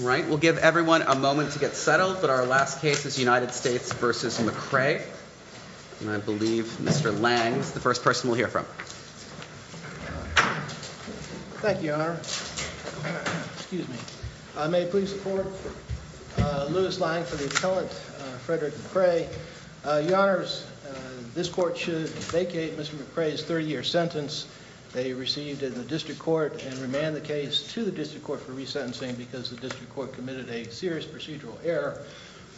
Right, we'll give everyone a moment to get settled, but our last case is United States v. McCray. And I believe Mr. Lang is the first person we'll hear from. Thank you, Your Honor. Excuse me. May it please the Court, Lewis Lang for the appellant, Fredrick McCray. Your Honors, this Court should vacate Mr. McCray's 30-year sentence they received in the District Court and remand the case to the District Court for resentencing because the District Court committed a serious procedural error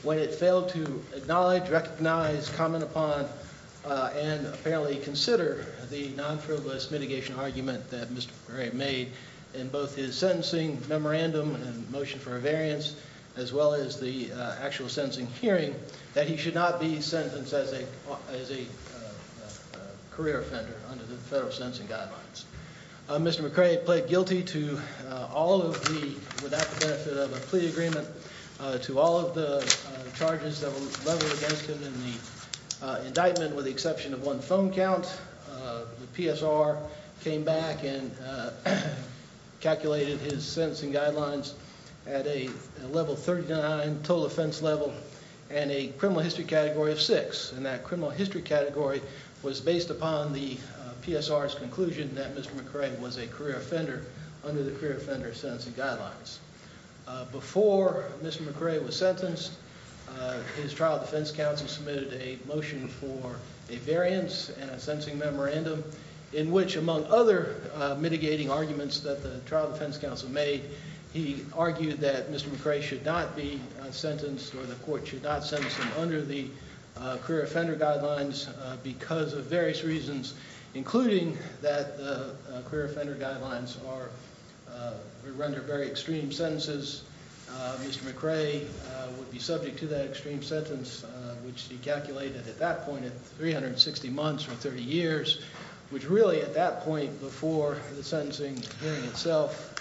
when it failed to acknowledge, recognize, comment upon, and apparently consider the non-frivolous mitigation argument that Mr. McCray made in both his sentencing memorandum and motion for a variance as well as the actual sentencing hearing that he should not be sentenced as a career offender under the federal sentencing guidelines. Mr. McCray pled guilty to all of the, without the benefit of a plea agreement, to all of the charges that were leveled against him in the indictment with the exception of one phone count. The PSR came back and calculated his sentencing guidelines at a level 39 total offense level and a criminal history category of 6. That criminal history category was based upon the PSR's conclusion that Mr. McCray was a career offender under the career offender sentencing guidelines. Before Mr. McCray was sentenced, his trial defense counsel submitted a motion for a variance and a sentencing memorandum in which among other mitigating arguments that the trial defense counsel made, he argued that Mr. McCray should not be sentenced or the court should not sentence him under the career offender guidelines because of various reasons, including that the career offender guidelines render very extreme sentences. Mr. McCray would be subject to that extreme sentence, which he calculated at that point at 360 months or 30 years, which really at that point before the sentencing hearing itself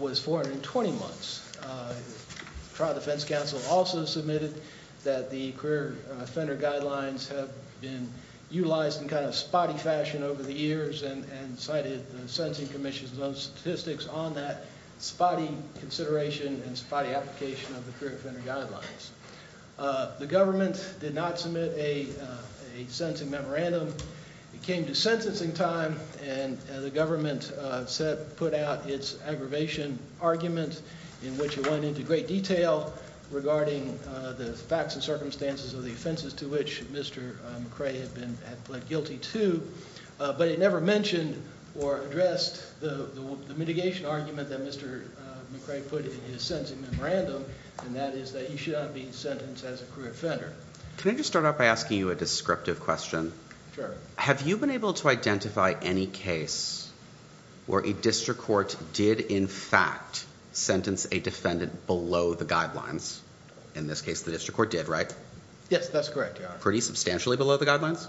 was 420 months. The trial defense counsel also submitted that the career offender guidelines have been utilized in a spotty fashion over the years and cited the sentencing commission's own statistics on that spotty consideration and spotty application of the career offender guidelines. The government did not submit a sentencing memorandum. It came to sentencing time, and the government put out its aggravation argument in which it went into great detail regarding the facts and circumstances of the offenses to which Mr. McCray had pled guilty to, but it never mentioned or addressed the mitigation argument that Mr. McCray put in his sentencing memorandum, and that is that he should not be sentenced as a career offender. Can I just start off by asking you a descriptive question? Have you been able to identify any case where a district court did in fact sentence a defendant below the guidelines? In this case, the district court did, right? Yes, that's correct, Your Honor. Pretty substantially below the guidelines?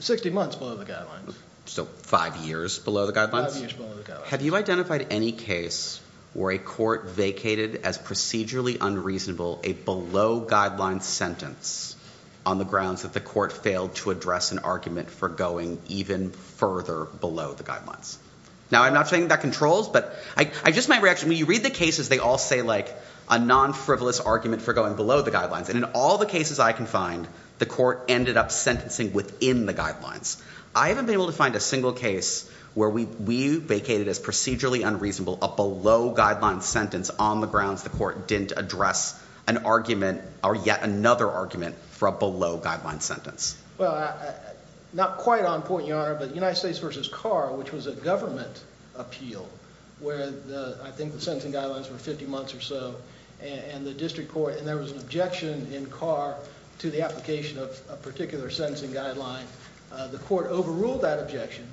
60 months below the guidelines. So five years below the guidelines? Five years below the guidelines. Have you identified any case where a court vacated as procedurally unreasonable a below-guidelines sentence on the grounds that the court failed to address an argument for going even further below the guidelines? Now, I'm not saying that controls, but I just might react to it. When you read the cases, they all say a non-frivolous argument for going below the guidelines, and in all the cases I can find, the court ended up sentencing within the guidelines. I haven't been able to find a single case where we vacated as procedurally unreasonable a below-guidelines sentence on the grounds the court didn't address an argument or yet another argument for a below-guidelines sentence. Well, not quite on point, Your Honor, but United States v. Carr, which was a government appeal where I think the sentencing guidelines were 50 months or so, and the district court, and there was an objection in Carr to the application of a particular sentencing guideline. The court overruled that objection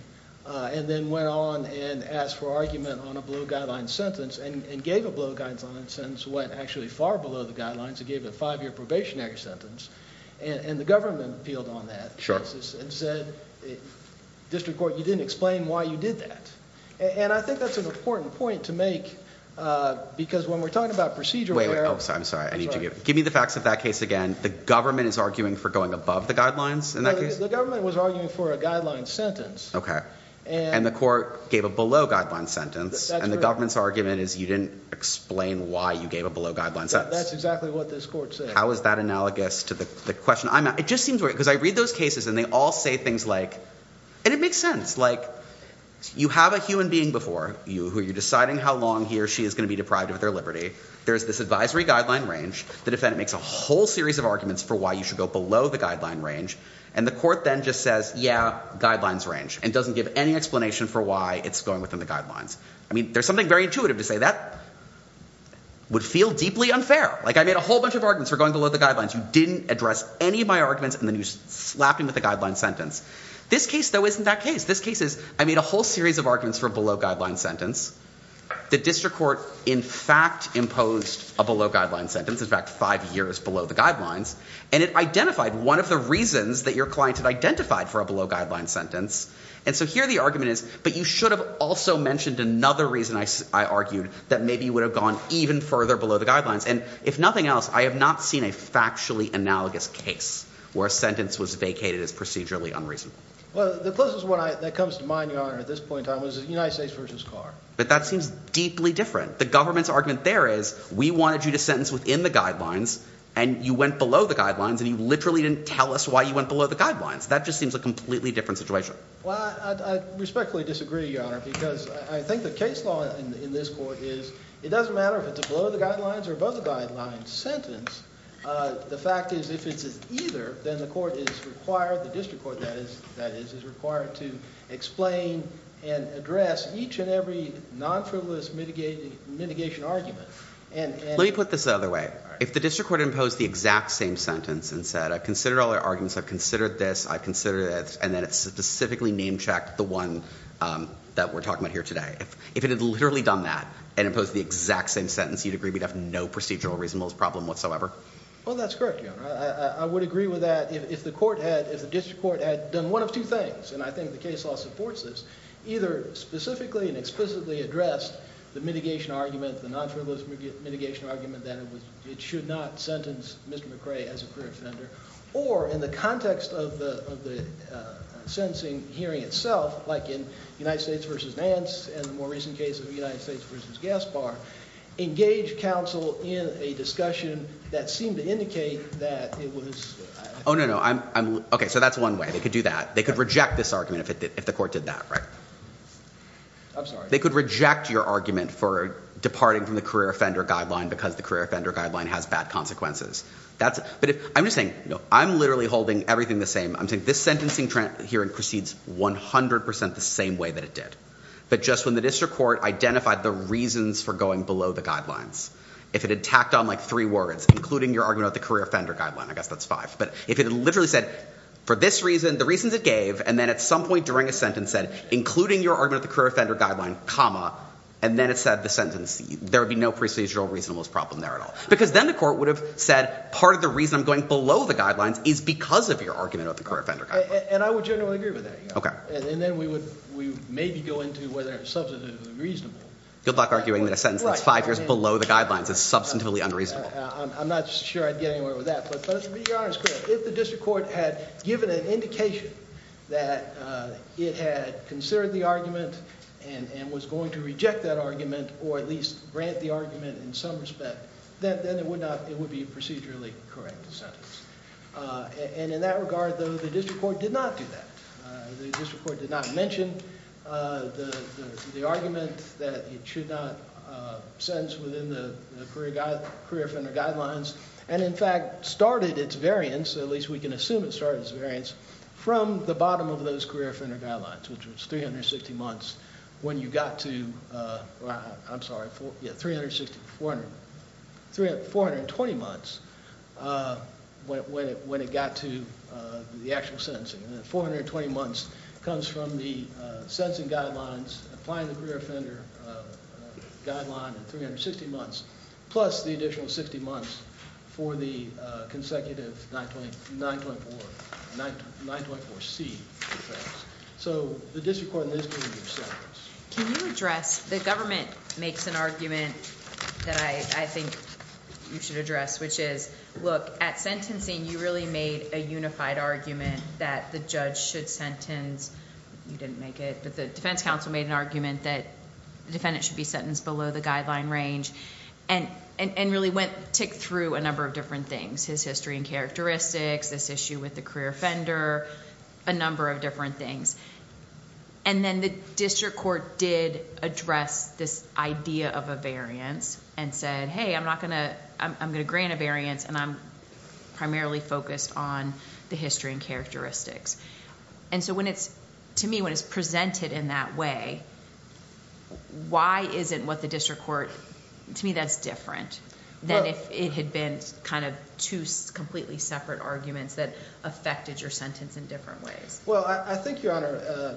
and then went on and asked for argument on a below-guidelines sentence and gave a below-guidelines sentence that went actually far below the guidelines. It gave a five-year probationary sentence, and the government appealed on that and said, District Court, you didn't explain why you did that. And I think that's an important point to make because when we're talking about procedural error— Wait, I'm sorry. Give me the facts of that case again. The government is arguing for going above the guidelines in that case? The government was arguing for a guidelines sentence. Okay, and the court gave a below-guidelines sentence, and the government's argument is you didn't explain why you gave a below-guidelines sentence. That's exactly what this court said. How is that analogous to the question I'm asking? It just seems weird because I read those cases and they all say things like— and it makes sense. You have a human being before you who you're deciding how long he or she is going to be deprived of their liberty. There's this advisory guideline range. The defendant makes a whole series of arguments for why you should go below the guideline range, and the court then just says, yeah, guidelines range, and doesn't give any explanation for why it's going within the guidelines. I mean, there's something very intuitive to say. That would feel deeply unfair. Like, I made a whole bunch of arguments for going below the guidelines. You didn't address any of my arguments, and then you slapped me with a guidelines sentence. This case, though, isn't that case. This case is I made a whole series of arguments for a below-guidelines sentence. The District Court, in fact, imposed a below-guidelines sentence. In fact, five years below the guidelines. And it identified one of the reasons that your client had identified for a below-guidelines sentence. And so here the argument is, but you should have also mentioned another reason, I argued, that maybe you would have gone even further below the guidelines. And if nothing else, I have not seen a factually analogous case where a sentence was vacated as procedurally unreasonable. Well, the closest one that comes to mind, Your Honor, at this point in time was the United States v. Carr. But that seems deeply different. The government's argument there is we wanted you to sentence within the guidelines, and you went below the guidelines, and you literally didn't tell us why you went below the guidelines. That just seems a completely different situation. Well, I respectfully disagree, Your Honor, because I think the case law in this court is it doesn't matter if it's a below-the-guidelines or above-the-guidelines sentence. The fact is if it's an either, then the court is required, the District Court, that is, is required to explain and address each and every non-frivolous mitigation argument. Let me put this the other way. If the District Court imposed the exact same sentence and said, I've considered all the arguments, I've considered this, I've considered that, and then it specifically name-checked the one that we're talking about here today, if it had literally done that and imposed the exact same sentence, you'd agree we'd have no procedural reasonableness problem whatsoever? Well, that's correct, Your Honor. I would agree with that if the District Court had done one of two things, and I think the case law supports this, either specifically and explicitly addressed the mitigation argument, the non-frivolous mitigation argument, that it should not sentence Mr. McRae as a career offender, or in the context of the sentencing hearing itself, like in United States v. Vance and the more recent case of United States v. Gaspar, engage counsel in a discussion that seemed to indicate that it was... Oh, no, no. Okay, so that's one way they could do that. They could reject this argument if the court did that, right? I'm sorry? They could reject your argument for departing from the career offender guideline because the career offender guideline has bad consequences. But I'm just saying I'm literally holding everything the same. I'm saying this sentencing hearing proceeds 100% the same way that it did, but just when the District Court identified the reasons for going below the guidelines, if it had tacked on, like, three words, including your argument about the career offender guideline, I guess that's five, but if it had literally said, for this reason, the reasons it gave, and then at some point during a sentence said, including your argument of the career offender guideline, comma, and then it said the sentence, there would be no procedural reasonableness problem there at all. Because then the court would have said part of the reason I'm going below the guidelines is because of your argument of the career offender guideline. And I would generally agree with that. Okay. And then we would maybe go into whether it's substantively reasonable. Good luck arguing that a sentence that's five years below the guidelines is substantively unreasonable. I'm not sure I'd get anywhere with that. If the District Court had given an indication that it had considered the argument and was going to reject that argument or at least grant the argument in some respect, then it would be a procedurally correct sentence. And in that regard, though, the District Court did not do that. The District Court did not mention the argument that it should not sentence within the career offender guidelines and, in fact, started its variance, at least we can assume it started its variance, from the bottom of those career offender guidelines, which was 360 months when you got to, I'm sorry, 420 months when it got to the actual sentencing. 420 months comes from the sentencing guidelines, applying the career offender guideline, 360 months, plus the additional 60 months for the consecutive 924C defense. So the District Court is going to do a sentence. Can you address... the government makes an argument that I think you should address, which is, look, at sentencing you really made a unified argument that the judge should sentence. You didn't make it, but the defense counsel made an argument that the defendant should be sentenced below the guideline range and really ticked through a number of different things, his history and characteristics, this issue with the career offender, a number of different things. And then the District Court did address this idea of a variance and said, hey, I'm going to grant a variance, and I'm primarily focused on the history and characteristics. And so to me, when it's presented in that way, why isn't what the District Court... to me that's different than if it had been kind of two completely separate arguments that affected your sentence in different ways. Well, I think, Your Honor,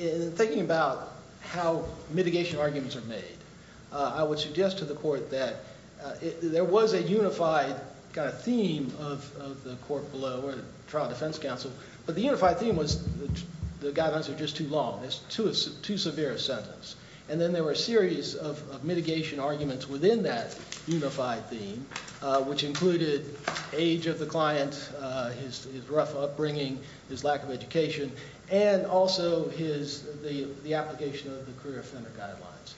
in thinking about how mitigation arguments are made, I would suggest to the court that there was a unified kind of theme of the court below or the trial defense counsel, but the unified theme was the guidelines are just too long, it's too severe a sentence. And then there were a series of mitigation arguments within that unified theme, which included age of the client, his rough upbringing, his lack of education, and also his... the application of the career offender guidelines.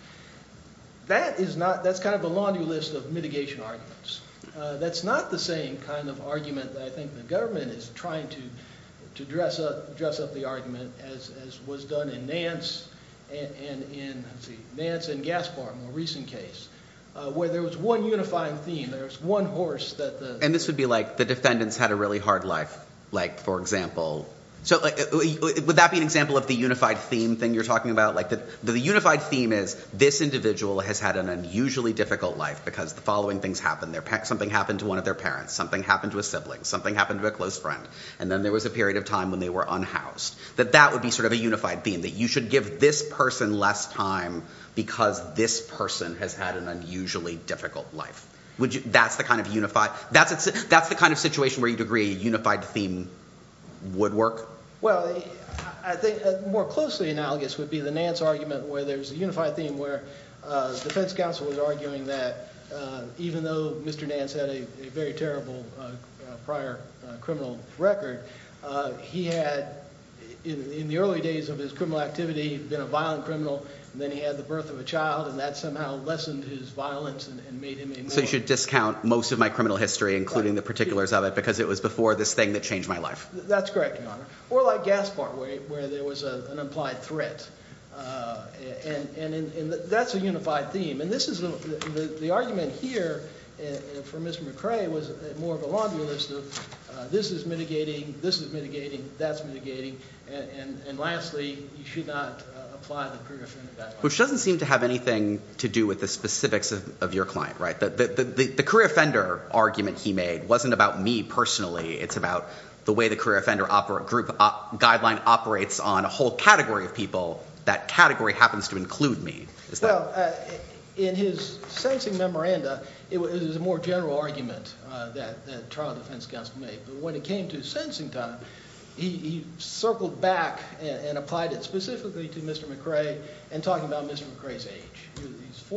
That is not... that's kind of a laundry list of mitigation arguments. That's not the same kind of argument that I think the government is trying to dress up the argument as was done in Nance and Gaspard, a more recent case, where there was one unifying theme. There was one horse that the... And this would be like the defendants had a really hard life, like for example... Would that be an example of the unified theme thing you're talking about? The unified theme is this individual has had an unusually difficult life because the following things happened. Something happened to one of their parents, something happened to a sibling, something happened to a close friend, and then there was a period of time when they were unhoused. That that would be sort of a unified theme, that you should give this person less time because this person has had an unusually difficult life. That's the kind of unified... That's the kind of situation where you'd agree a unified theme would work? Well, I think more closely analogous would be the Nance argument where there's a unified theme where the defense counsel was arguing that even though Mr. Nance had a very terrible prior criminal record, he had, in the early days of his criminal activity, been a violent criminal, and then he had the birth of a child, and that somehow lessened his violence and made him a murderer. So you should discount most of my criminal history, including the particulars of it, because it was before this thing that changed my life. That's correct, Your Honor. Or like Gaspard, where there was an implied threat, and that's a unified theme. And this is the argument here for Mr. McCrae was more of a long list of this is mitigating, this is mitigating, that's mitigating, and lastly, you should not apply the career offender... Which doesn't seem to have anything to do with the specifics of your client, right? The career offender argument he made wasn't about me personally. It's about the way the career offender group guideline operates on a whole category of people. That category happens to include me. Well, in his sentencing memoranda, it was a more general argument that trial defense counsel made, but when it came to sentencing time, he circled back and applied it specifically to Mr. McCrae and talked about Mr. McCrae's age.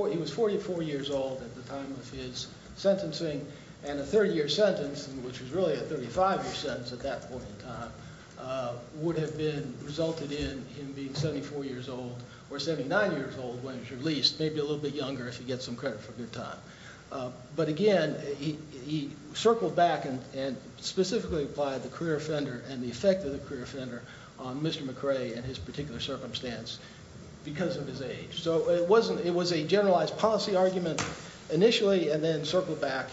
He was 44 years old at the time of his sentencing, and a 30-year sentence, which was really a 35-year sentence at that point in time, would have resulted in him being 74 years old or 79 years old when he was released, maybe a little bit younger if you get some credit for good time. But again, he circled back and specifically applied the career offender and the effect of the career offender on Mr. McCrae and his particular circumstance because of his age. So it was a generalized policy argument initially and then circled back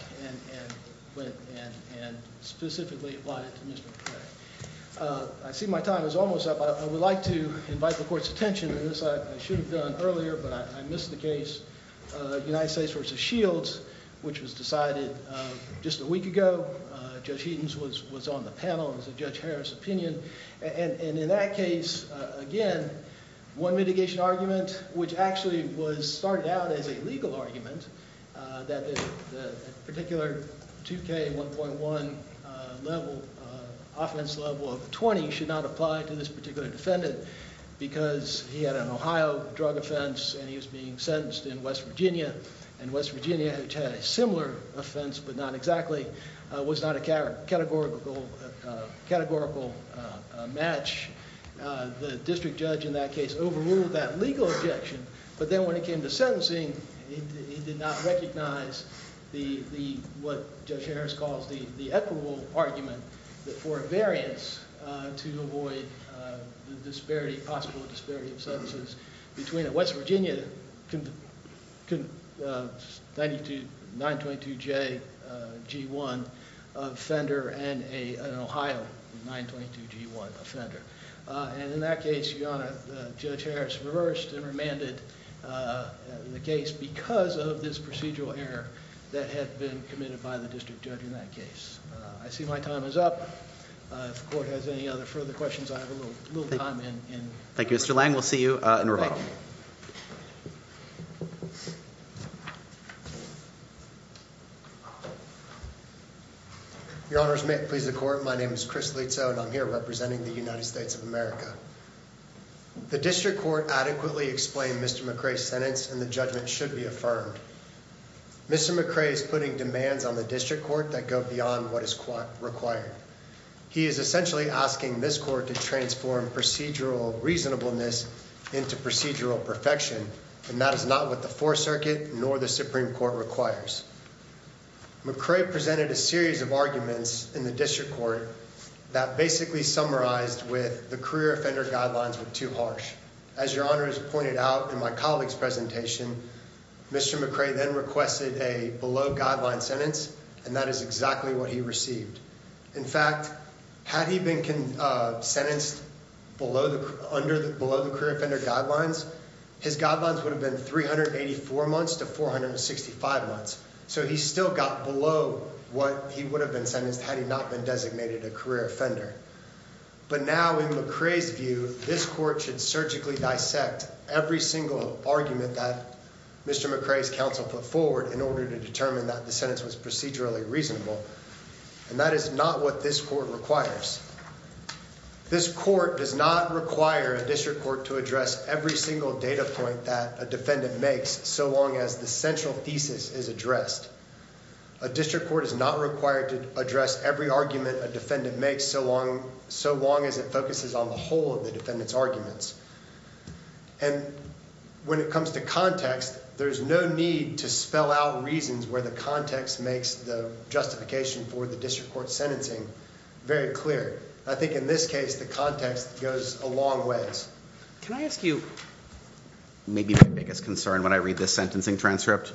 and specifically applied it to Mr. McCrae. I see my time is almost up. I would like to invite the Court's attention to this. I should have done earlier, but I missed the case, United States v. Shields, which was decided just a week ago. Judge Heaton was on the panel. It was a Judge Harris opinion. In that case, again, one mitigation argument, which actually started out as a legal argument, that the particular 2K1.1 offense level of 20 should not apply to this particular defendant because he had an Ohio drug offense and he was being sentenced in West Virginia, and West Virginia, which had a similar offense but not exactly, was not a categorical match. The district judge in that case overruled that legal objection, but then when it came to sentencing, he did not recognize what Judge Harris calls the equitable argument for a variance to avoid the possible disparity of sentences between a West Virginia 922JG1 offender and an Ohio 922G1 offender. In that case, Your Honor, Judge Harris reversed and remanded the case because of this procedural error that had been committed by the district judge in that case. I see my time is up. If the court has any other further questions, I have a little time in. Thank you, Mr. Lang. We'll see you in a little while. Your Honors, may it please the court, my name is Chris Lizzo, and I'm here representing the United States of America. The district court adequately explained Mr. McCrae's sentence, and the judgment should be affirmed. Mr. McCrae is putting demands on the district court that go beyond what is required. He is essentially asking this court to transform procedural reasonableness into procedural perfection, and that is not what the Fourth Circuit nor the Supreme Court requires. McCrae presented a series of arguments in the district court that basically summarized with the career offender guidelines were too harsh. As Your Honor has pointed out in my colleague's presentation, Mr. McCrae then requested a below-guideline sentence, and that is exactly what he received. In fact, had he been sentenced below the career offender guidelines, his guidelines would have been 384 months to 465 months. So he still got below what he would have been sentenced had he not been designated a career offender. But now in McCrae's view, this court should surgically dissect every single argument that Mr. McCrae's counsel put forward in order to determine that the sentence was procedurally reasonable, and that is not what this court requires. This court does not require a district court to address every single data point that a defendant makes so long as the central thesis is addressed. A district court is not required to address every argument a defendant makes so long as it focuses on the whole of the defendant's arguments. And when it comes to context, there's no need to spell out reasons where the context makes the justification for the district court's sentencing very clear. I think in this case, the context goes a long ways. Can I ask you maybe my biggest concern when I read this sentencing transcript?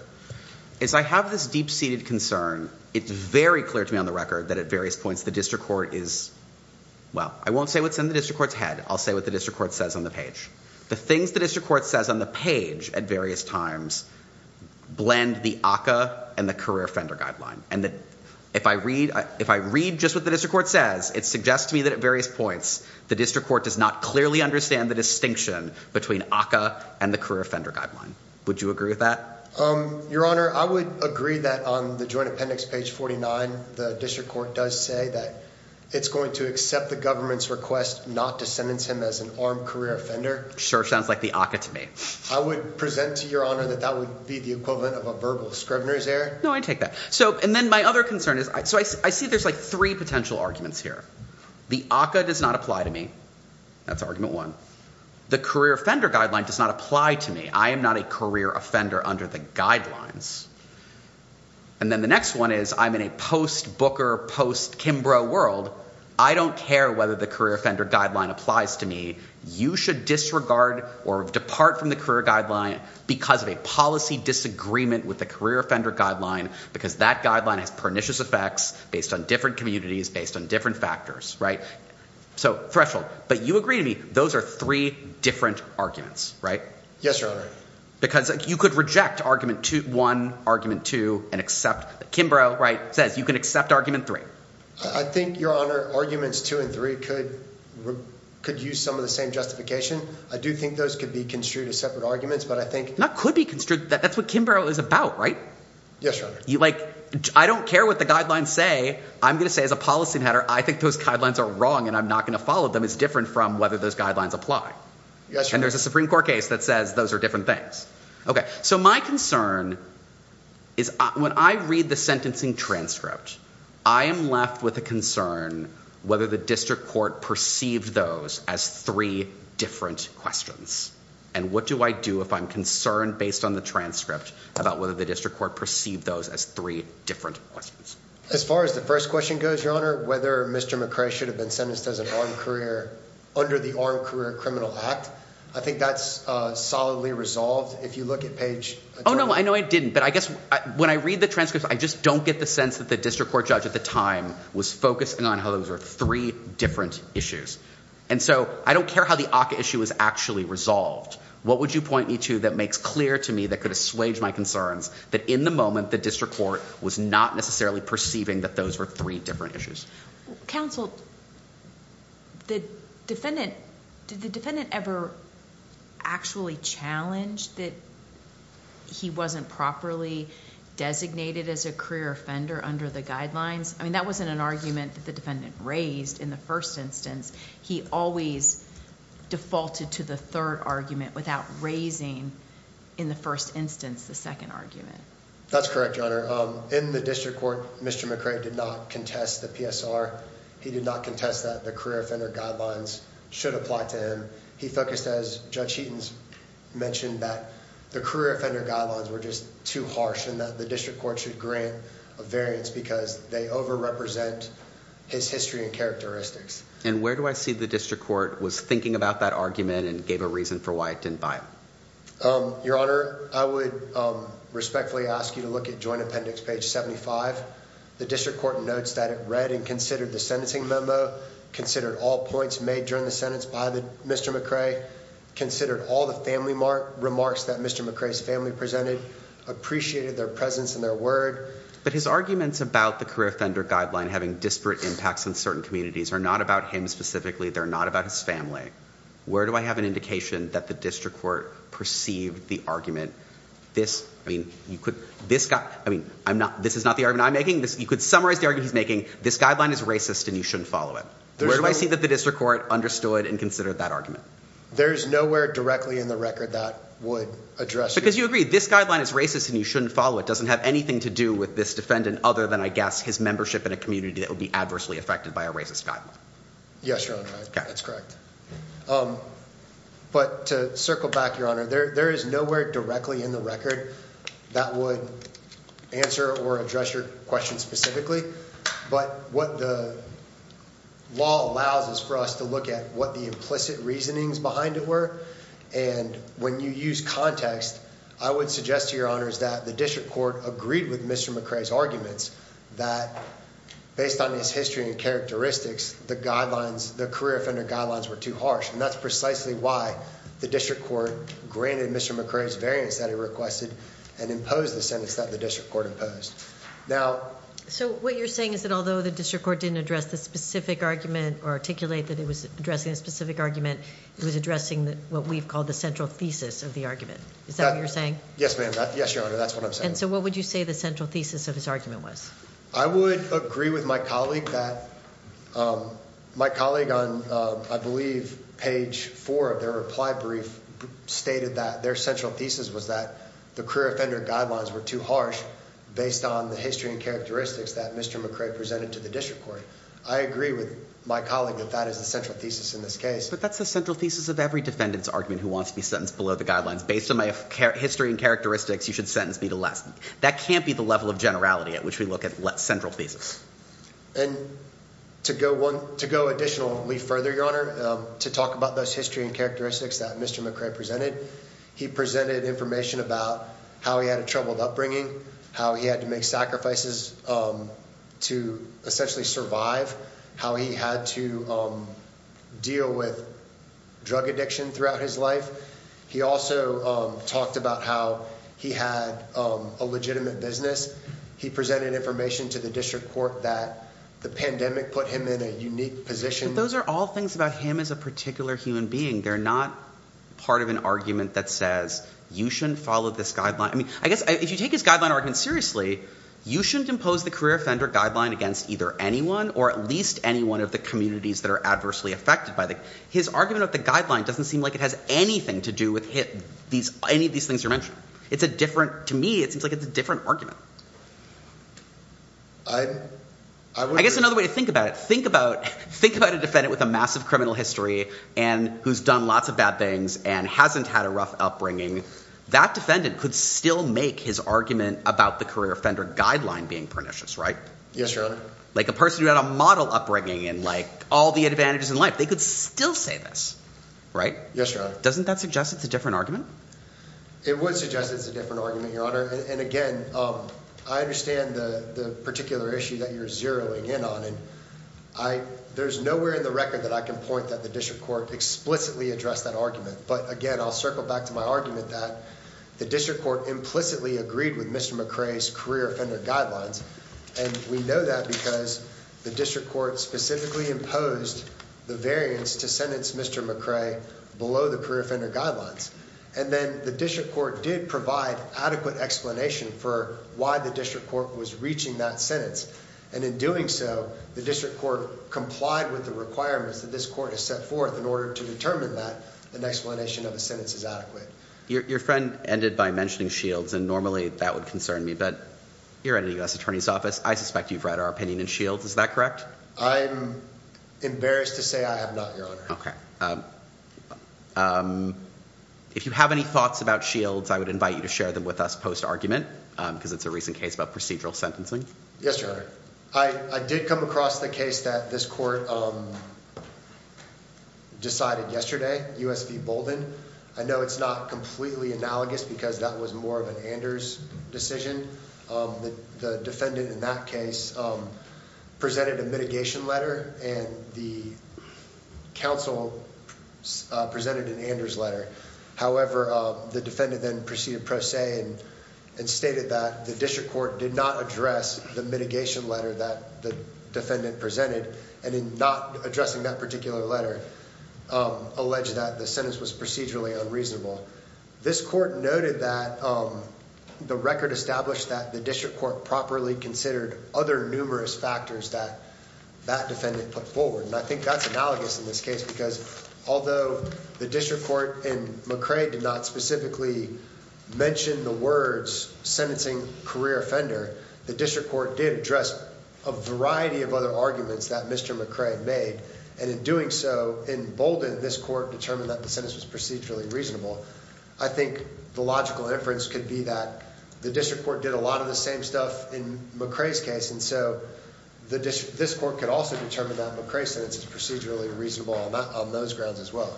As I have this deep-seated concern, it's very clear to me on the record that at various points, the district court is, well, I won't say what's in the district court's head. I'll say what the district court says on the page. The things the district court says on the page at various times blend the ACCA and the career offender guideline. And if I read just what the district court says, it suggests to me that at various points, the district court does not clearly understand the distinction between ACCA and the career offender guideline. Would you agree with that? Your Honor, I would agree that on the joint appendix, page 49, the district court does say that it's going to accept the government's request not to sentence him as an armed career offender. Sure sounds like the ACCA to me. I would present to Your Honor that that would be the equivalent of a verbal scrivener's error. No, I take that. And then my other concern is I see there's like three potential arguments here. The ACCA does not apply to me. That's argument one. The career offender guideline does not apply to me. I am not a career offender under the guidelines. And then the next one is I'm in a post Booker, post Kimbrough world. I don't care whether the career offender guideline applies to me. You should disregard or depart from the career guideline because of a policy disagreement with the career offender guideline, because that guideline has pernicious effects based on different communities, based on different factors. Right. So threshold. But you agree to me those are three different arguments. Right. Yes, Your Honor. Because you could reject argument to one argument to and accept Kimbrough. Says you can accept argument three. I think, Your Honor, arguments two and three could could use some of the same justification. I do think those could be construed as separate arguments, but I think that could be construed. That's what Kimbrough is about. Right. Yes. You like. I don't care what the guidelines say. I'm going to say as a policy matter, I think those guidelines are wrong and I'm not going to follow them. It's different from whether those guidelines apply. Yes. And there's a Supreme Court case that says those are different things. So my concern is when I read the sentencing transcript, I am left with a concern whether the district court perceived those as three different questions. And what do I do if I'm concerned based on the transcript about whether the district court perceived those as three different questions? As far as the first question goes, Your Honor, whether Mr. McCray should have been sentenced as an armed career under the Armed Career Criminal Act. I think that's solidly resolved. If you look at page. Oh, no, I know I didn't. But I guess when I read the transcript, I just don't get the sense that the district court judge at the time was focusing on how those are three different issues. And so I don't care how the issue is actually resolved. What would you point me to that makes clear to me that could assuage my concerns that in the moment the district court was not necessarily perceiving that those were three different issues? Counsel, did the defendant ever actually challenge that he wasn't properly designated as a career offender under the guidelines? I mean, that wasn't an argument that the defendant raised in the first instance. He always defaulted to the third argument without raising in the first instance the second argument. That's correct, Your Honor. In the district court, Mr. McCray did not contest the PSR. He did not contest that the career offender guidelines should apply to him. He focused, as Judge Sheetans mentioned, that the career offender guidelines were just too harsh and that the district court should grant a variance because they overrepresent his history and characteristics. And where do I see the district court was thinking about that argument and gave a reason for why it didn't buy it? Your Honor, I would respectfully ask you to look at Joint Appendix page 75. The district court notes that it read and considered the sentencing memo, considered all points made during the sentence by Mr. McCray, considered all the family remarks that Mr. McCray's family presented, appreciated their presence and their word. But his arguments about the career offender guideline having disparate impacts on certain communities are not about him specifically. They're not about his family. Where do I have an indication that the district court perceived the argument? This, I mean, you could, this guy, I mean, I'm not, this is not the argument I'm making. You could summarize the argument he's making. This guideline is racist and you shouldn't follow it. Where do I see that the district court understood and considered that argument? There's nowhere directly in the record that would address it. Because you agree this guideline is racist and you shouldn't follow it. It doesn't have anything to do with this defendant other than, I guess, his membership in a community that would be adversely affected by a racist guideline. Yes, Your Honor, that's correct. But to circle back, Your Honor, there is nowhere directly in the record that would answer or address your question specifically. But what the law allows is for us to look at what the implicit reasonings behind it were. And when you use context, I would suggest to Your Honor that the district court agreed with Mr. McRae's arguments that, based on his history and characteristics, the guidelines, the career offender guidelines were too harsh. And that's precisely why the district court granted Mr. McRae's variance that he requested and imposed the sentence that the district court imposed. So what you're saying is that although the district court didn't address the specific argument or articulate that it was addressing a specific argument, it was addressing what we've called the central thesis of the argument. Is that what you're saying? Yes, ma'am. Yes, Your Honor, that's what I'm saying. And so what would you say the central thesis of his argument was? I would agree with my colleague that my colleague on, I believe, page 4 of their reply brief stated that their central thesis was that the career offender guidelines were too harsh based on the history and characteristics that Mr. McRae presented to the district court. I agree with my colleague that that is the central thesis in this case. But that's the central thesis of every defendant's argument who wants to be sentenced below the guidelines. Based on my history and characteristics, you should sentence me to less. That can't be the level of generality at which we look at central thesis. And to go additionally further, Your Honor, to talk about those history and characteristics that Mr. McRae presented, he presented information about how he had a troubled upbringing, how he had to make sacrifices to essentially survive, how he had to deal with drug addiction throughout his life. He also talked about how he had a legitimate business. He presented information to the district court that the pandemic put him in a unique position. Those are all things about him as a particular human being. They're not part of an argument that says you shouldn't follow this guideline. I mean, I guess if you take his guideline argument seriously, you shouldn't impose the career offender guideline against either anyone or at least any one of the communities that are adversely affected by that. His argument about the guideline doesn't seem like it has anything to do with any of these things you're mentioning. To me, it seems like it's a different argument. I guess another way to think about it, think about a defendant with a massive criminal history and who's done lots of bad things and hasn't had a rough upbringing. That defendant could still make his argument about the career offender guideline being pernicious, right? Yes, Your Honor. Like a person who had a model upbringing and all the advantages in life, they could still say this, right? Yes, Your Honor. Doesn't that suggest it's a different argument? It would suggest it's a different argument, Your Honor. And, again, I understand the particular issue that you're zeroing in on. And there's nowhere in the record that I can point that the district court explicitly addressed that argument. But, again, I'll circle back to my argument that the district court implicitly agreed with Mr. McRae's career offender guidelines. And we know that because the district court specifically imposed the variance to sentence Mr. McRae below the career offender guidelines. And then the district court did provide adequate explanation for why the district court was reaching that sentence. And in doing so, the district court complied with the requirements that this court has set forth in order to determine that an explanation of a sentence is adequate. Your friend ended by mentioning Shields, and normally that would concern me. But you're at a U.S. attorney's office. I suspect you've read our opinion in Shields. Is that correct? I'm embarrassed to say I have not, Your Honor. Okay. If you have any thoughts about Shields, I would invite you to share them with us post-argument because it's a recent case about procedural sentencing. Yes, Your Honor. I did come across the case that this court decided yesterday, U.S. v. Bolden. I know it's not completely analogous because that was more of an Anders decision. The defendant in that case presented a mitigation letter, and the counsel presented an Anders letter. However, the defendant then proceeded pro se and stated that the district court did not address the mitigation letter that the defendant presented. And in not addressing that particular letter, alleged that the sentence was procedurally unreasonable. This court noted that the record established that the district court properly considered other numerous factors that that defendant put forward. And I think that's analogous in this case because although the district court in McRae did not specifically mention the words sentencing career offender, the district court did address a variety of other arguments that Mr. McRae made. And in doing so, in Bolden, this court determined that the sentence was procedurally reasonable. I think the logical inference could be that the district court did a lot of the same stuff in McRae's case. And so this court could also determine that McRae's sentence is procedurally reasonable on those grounds as well.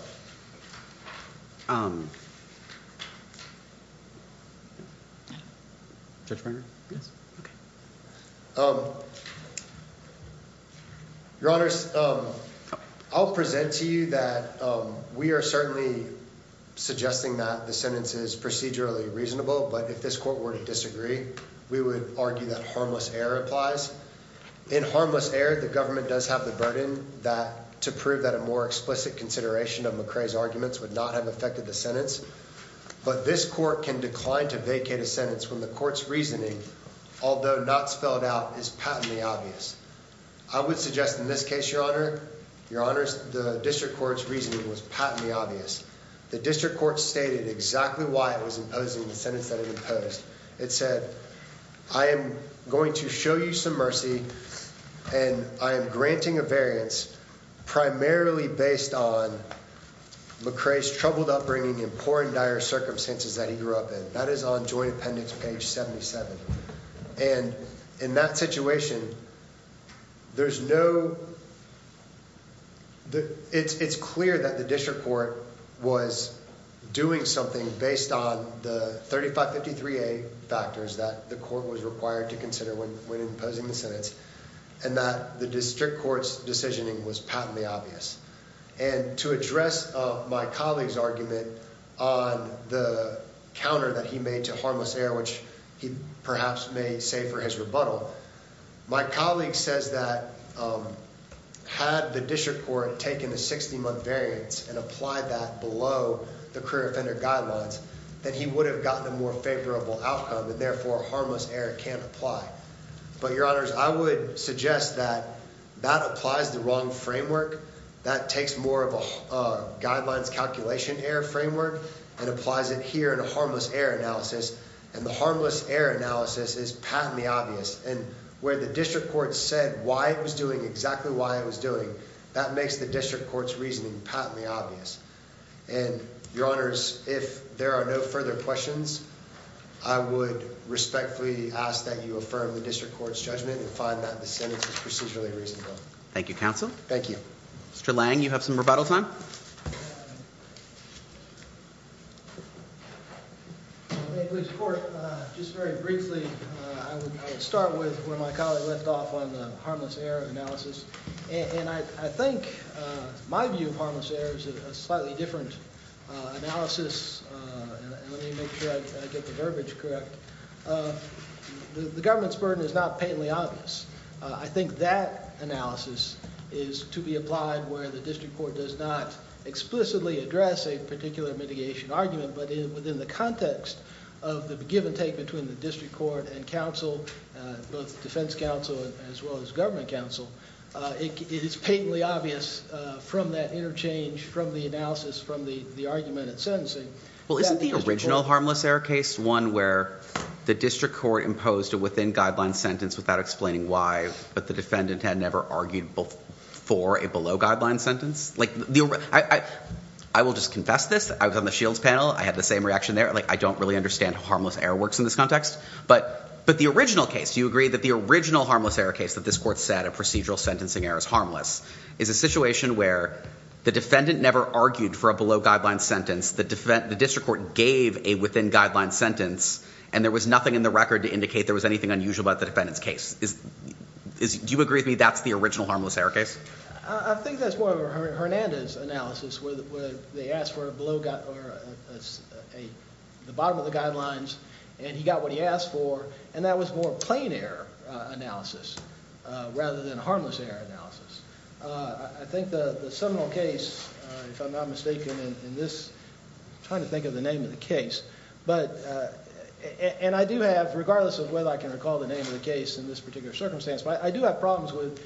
Your Honor, I'll present to you that we are certainly suggesting that the sentence is procedurally reasonable. But if this court were to disagree, we would argue that harmless air applies in harmless air. The government does have the burden that to prove that a more explicit consideration of McRae's arguments would not have affected the sentence. But this court can decline to vacate a sentence when the court's reasoning, although not spelled out, is patently obvious. I would suggest in this case, your honor, your honors, the district court's reasoning was patently obvious. The district court stated exactly why it was imposing the sentence that it imposed. It said, I am going to show you some mercy and I am granting a variance primarily based on McRae's troubled upbringing and poor and dire circumstances that he grew up in. That is on joint appendix page 77. And in that situation, it's clear that the district court was doing something based on the 3553A factors that the court was required to consider when imposing the sentence. And that the district court's decisioning was patently obvious. And to address my colleague's argument on the counter that he made to harmless air, which he perhaps may say for his rebuttal, my colleague says that had the district court taken the 60-month variance and applied that below the career offender guidelines, that he would have gotten a more favorable outcome and therefore harmless air can't apply. But your honors, I would suggest that that applies the wrong framework. That takes more of a guidelines calculation error framework and applies it here in a harmless air analysis. And the harmless air analysis is patently obvious. And where the district court said why it was doing exactly why it was doing, that makes the district court's reasoning patently obvious. And your honors, if there are no further questions, I would respectfully ask that you affirm the district court's judgment and find that the sentence is procedurally reasonable. Thank you, counsel. Thank you. Mr. Lange, you have some rebuttal time? Just very briefly, I would start with where my colleague left off on the harmless air analysis. And I think my view of harmless air is a slightly different analysis. Let me make sure I get the verbiage correct. The government's burden is not patently obvious. I think that analysis is to be applied where the district court does not explicitly address a particular mitigation argument, but within the context of the give and take between the district court and counsel, both defense counsel as well as government counsel. It is patently obvious from that interchange, from the analysis, from the argument and sentencing. Well, isn't the original harmless air case one where the district court imposed a within-guidelines sentence without explaining why, but the defendant had never argued for a below-guidelines sentence? I will just confess this. I was on the Shields panel. I had the same reaction there. I don't really understand how harmless air works in this context. But the original case, do you agree that the original harmless air case that this court said a procedural sentencing error is harmless is a situation where the defendant never argued for a below-guidelines sentence, the district court gave a within-guidelines sentence, and there was nothing in the record to indicate there was anything unusual about the defendant's case? Do you agree with me that's the original harmless air case? I think that's more of a Hernandez analysis where they asked for the bottom of the guidelines, and he got what he asked for, and that was more plain error analysis rather than harmless error analysis. I think the seminal case, if I'm not mistaken in this, I'm trying to think of the name of the case, and I do have, regardless of whether I can recall the name of the case in this particular circumstance, but I do have problems with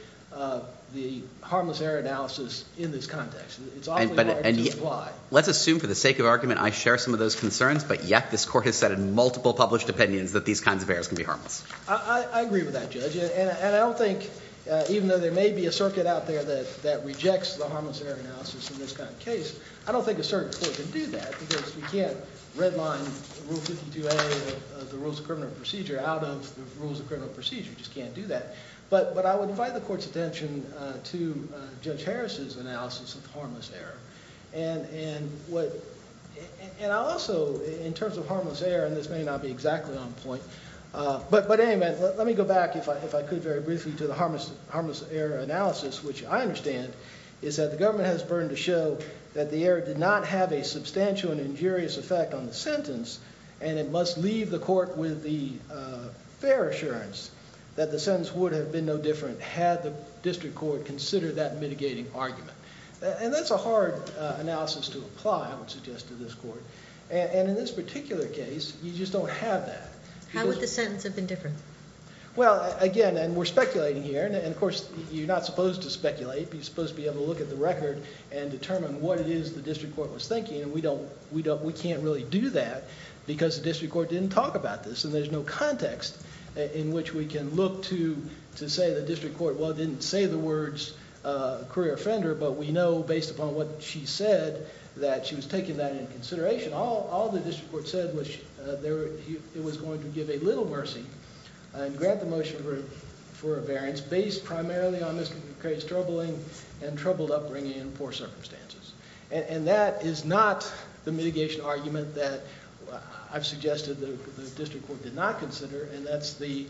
the harmless error analysis in this context. It's awfully hard to imply. Let's assume for the sake of argument I share some of those concerns, but yet this court has said in multiple published opinions that these kinds of errors can be harmless. I agree with that, Judge, and I don't think, even though there may be a circuit out there that rejects the harmless error analysis in this kind of case, I don't think a certain court can do that because we can't redline Rule 52A of the Rules of Criminal Procedure out of the Rules of Criminal Procedure. You just can't do that. But I would invite the court's attention to Judge Harris's analysis of harmless error, and I'll also, in terms of harmless error, and this may not be exactly on point, but anyway, let me go back, if I could, very briefly to the harmless error analysis, which I understand is that the government has a burden to show that the error did not have a substantial and injurious effect on the sentence, and it must leave the court with the fair assurance that the sentence would have been no different had the district court considered that mitigating argument. And that's a hard analysis to apply, I would suggest, to this court. And in this particular case, you just don't have that. How would the sentence have been different? Well, again, and we're speculating here, and of course you're not supposed to speculate. You're supposed to be able to look at the record and determine what it is the district court was thinking, and we can't really do that because the district court didn't talk about this, and there's no context in which we can look to say the district court, well, didn't say the words career offender, but we know based upon what she said that she was taking that into consideration. All the district court said was it was going to give a little mercy and grant the motion for a variance based primarily on this case troubling and troubled upbringing and poor circumstances. And that is not the mitigation argument that I've suggested the district court did not consider, and that's the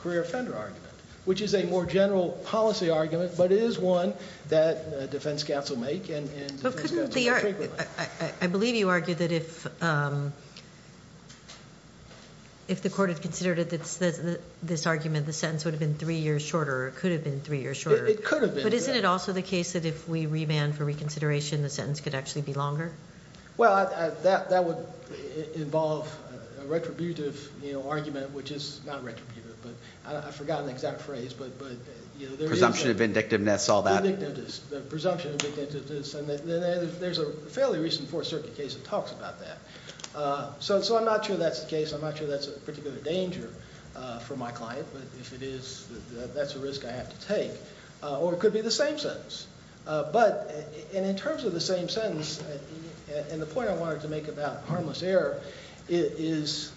career offender argument, which is a more general policy argument, but it is one that defense counsel make and defense counsel frequently. I believe you argued that if the court had considered this argument, the sentence would have been three years shorter or could have been three years shorter. It could have been. But isn't it also the case that if we remand for reconsideration, the sentence could actually be longer? Well, that would involve a retributive argument, which is not retributive, but I forgot an exact phrase. Presumption of indictiveness, all that. Presumption of indictiveness, and there's a fairly recent Fourth Circuit case that talks about that. So I'm not sure that's the case. I'm not sure that's a particular danger for my client, but if it is, that's a risk I have to take. Or it could be the same sentence. But in terms of the same sentence, and the point I wanted to make about harmless error, is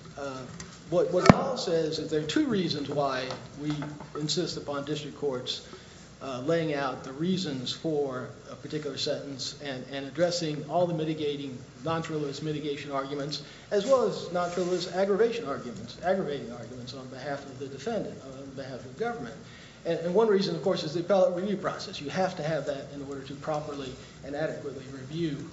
what the law says is there are two reasons why we insist upon district courts laying out the reasons for a particular sentence and addressing all the mitigating non-trivialist mitigation arguments as well as non-trivialist aggravation arguments, aggravating arguments on behalf of the defendant, on behalf of the government. And one reason, of course, is the appellate review process. You have to have that in order to properly and adequately review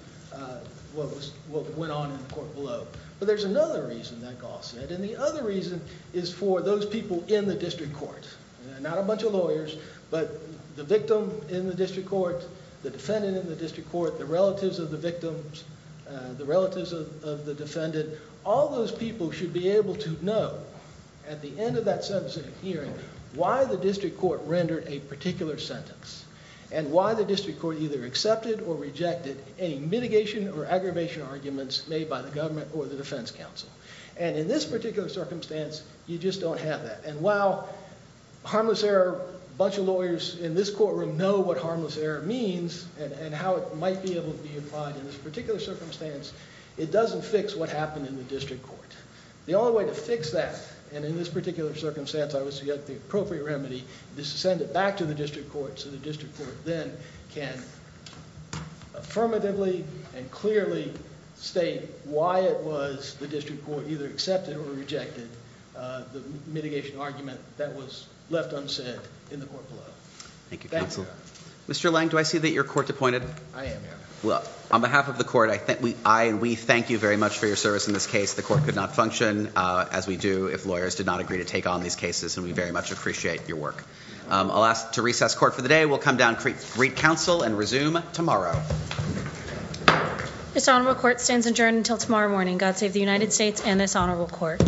what went on in the court below. But there's another reason that Gaul said, and the other reason is for those people in the district court. Not a bunch of lawyers, but the victim in the district court, the defendant in the district court, the relatives of the victims, the relatives of the defendant. All those people should be able to know at the end of that sentencing hearing why the district court rendered a particular sentence and why the district court either accepted or rejected any mitigation or aggravation arguments made by the government or the defense counsel. And in this particular circumstance, you just don't have that. And while harmless error, a bunch of lawyers in this courtroom know what harmless error means and how it might be able to be applied in this particular circumstance, it doesn't fix what happened in the district court. The only way to fix that, and in this particular circumstance I would suggest the appropriate remedy, is to send it back to the district court so the district court then can affirmatively and clearly state why it was the district court either accepted or rejected the mitigation argument that was left unsaid in the court below. Thank you, counsel. Thank you. Mr. Lange, do I see that you're court-appointed? I am, yeah. Well, on behalf of the court, we thank you very much for your service in this case. The court could not function as we do if lawyers did not agree to take on these cases, and we very much appreciate your work. I'll ask to recess court for the day. We'll come down and greet counsel and resume tomorrow. This honorable court stands adjourned until tomorrow morning. God save the United States and this honorable court.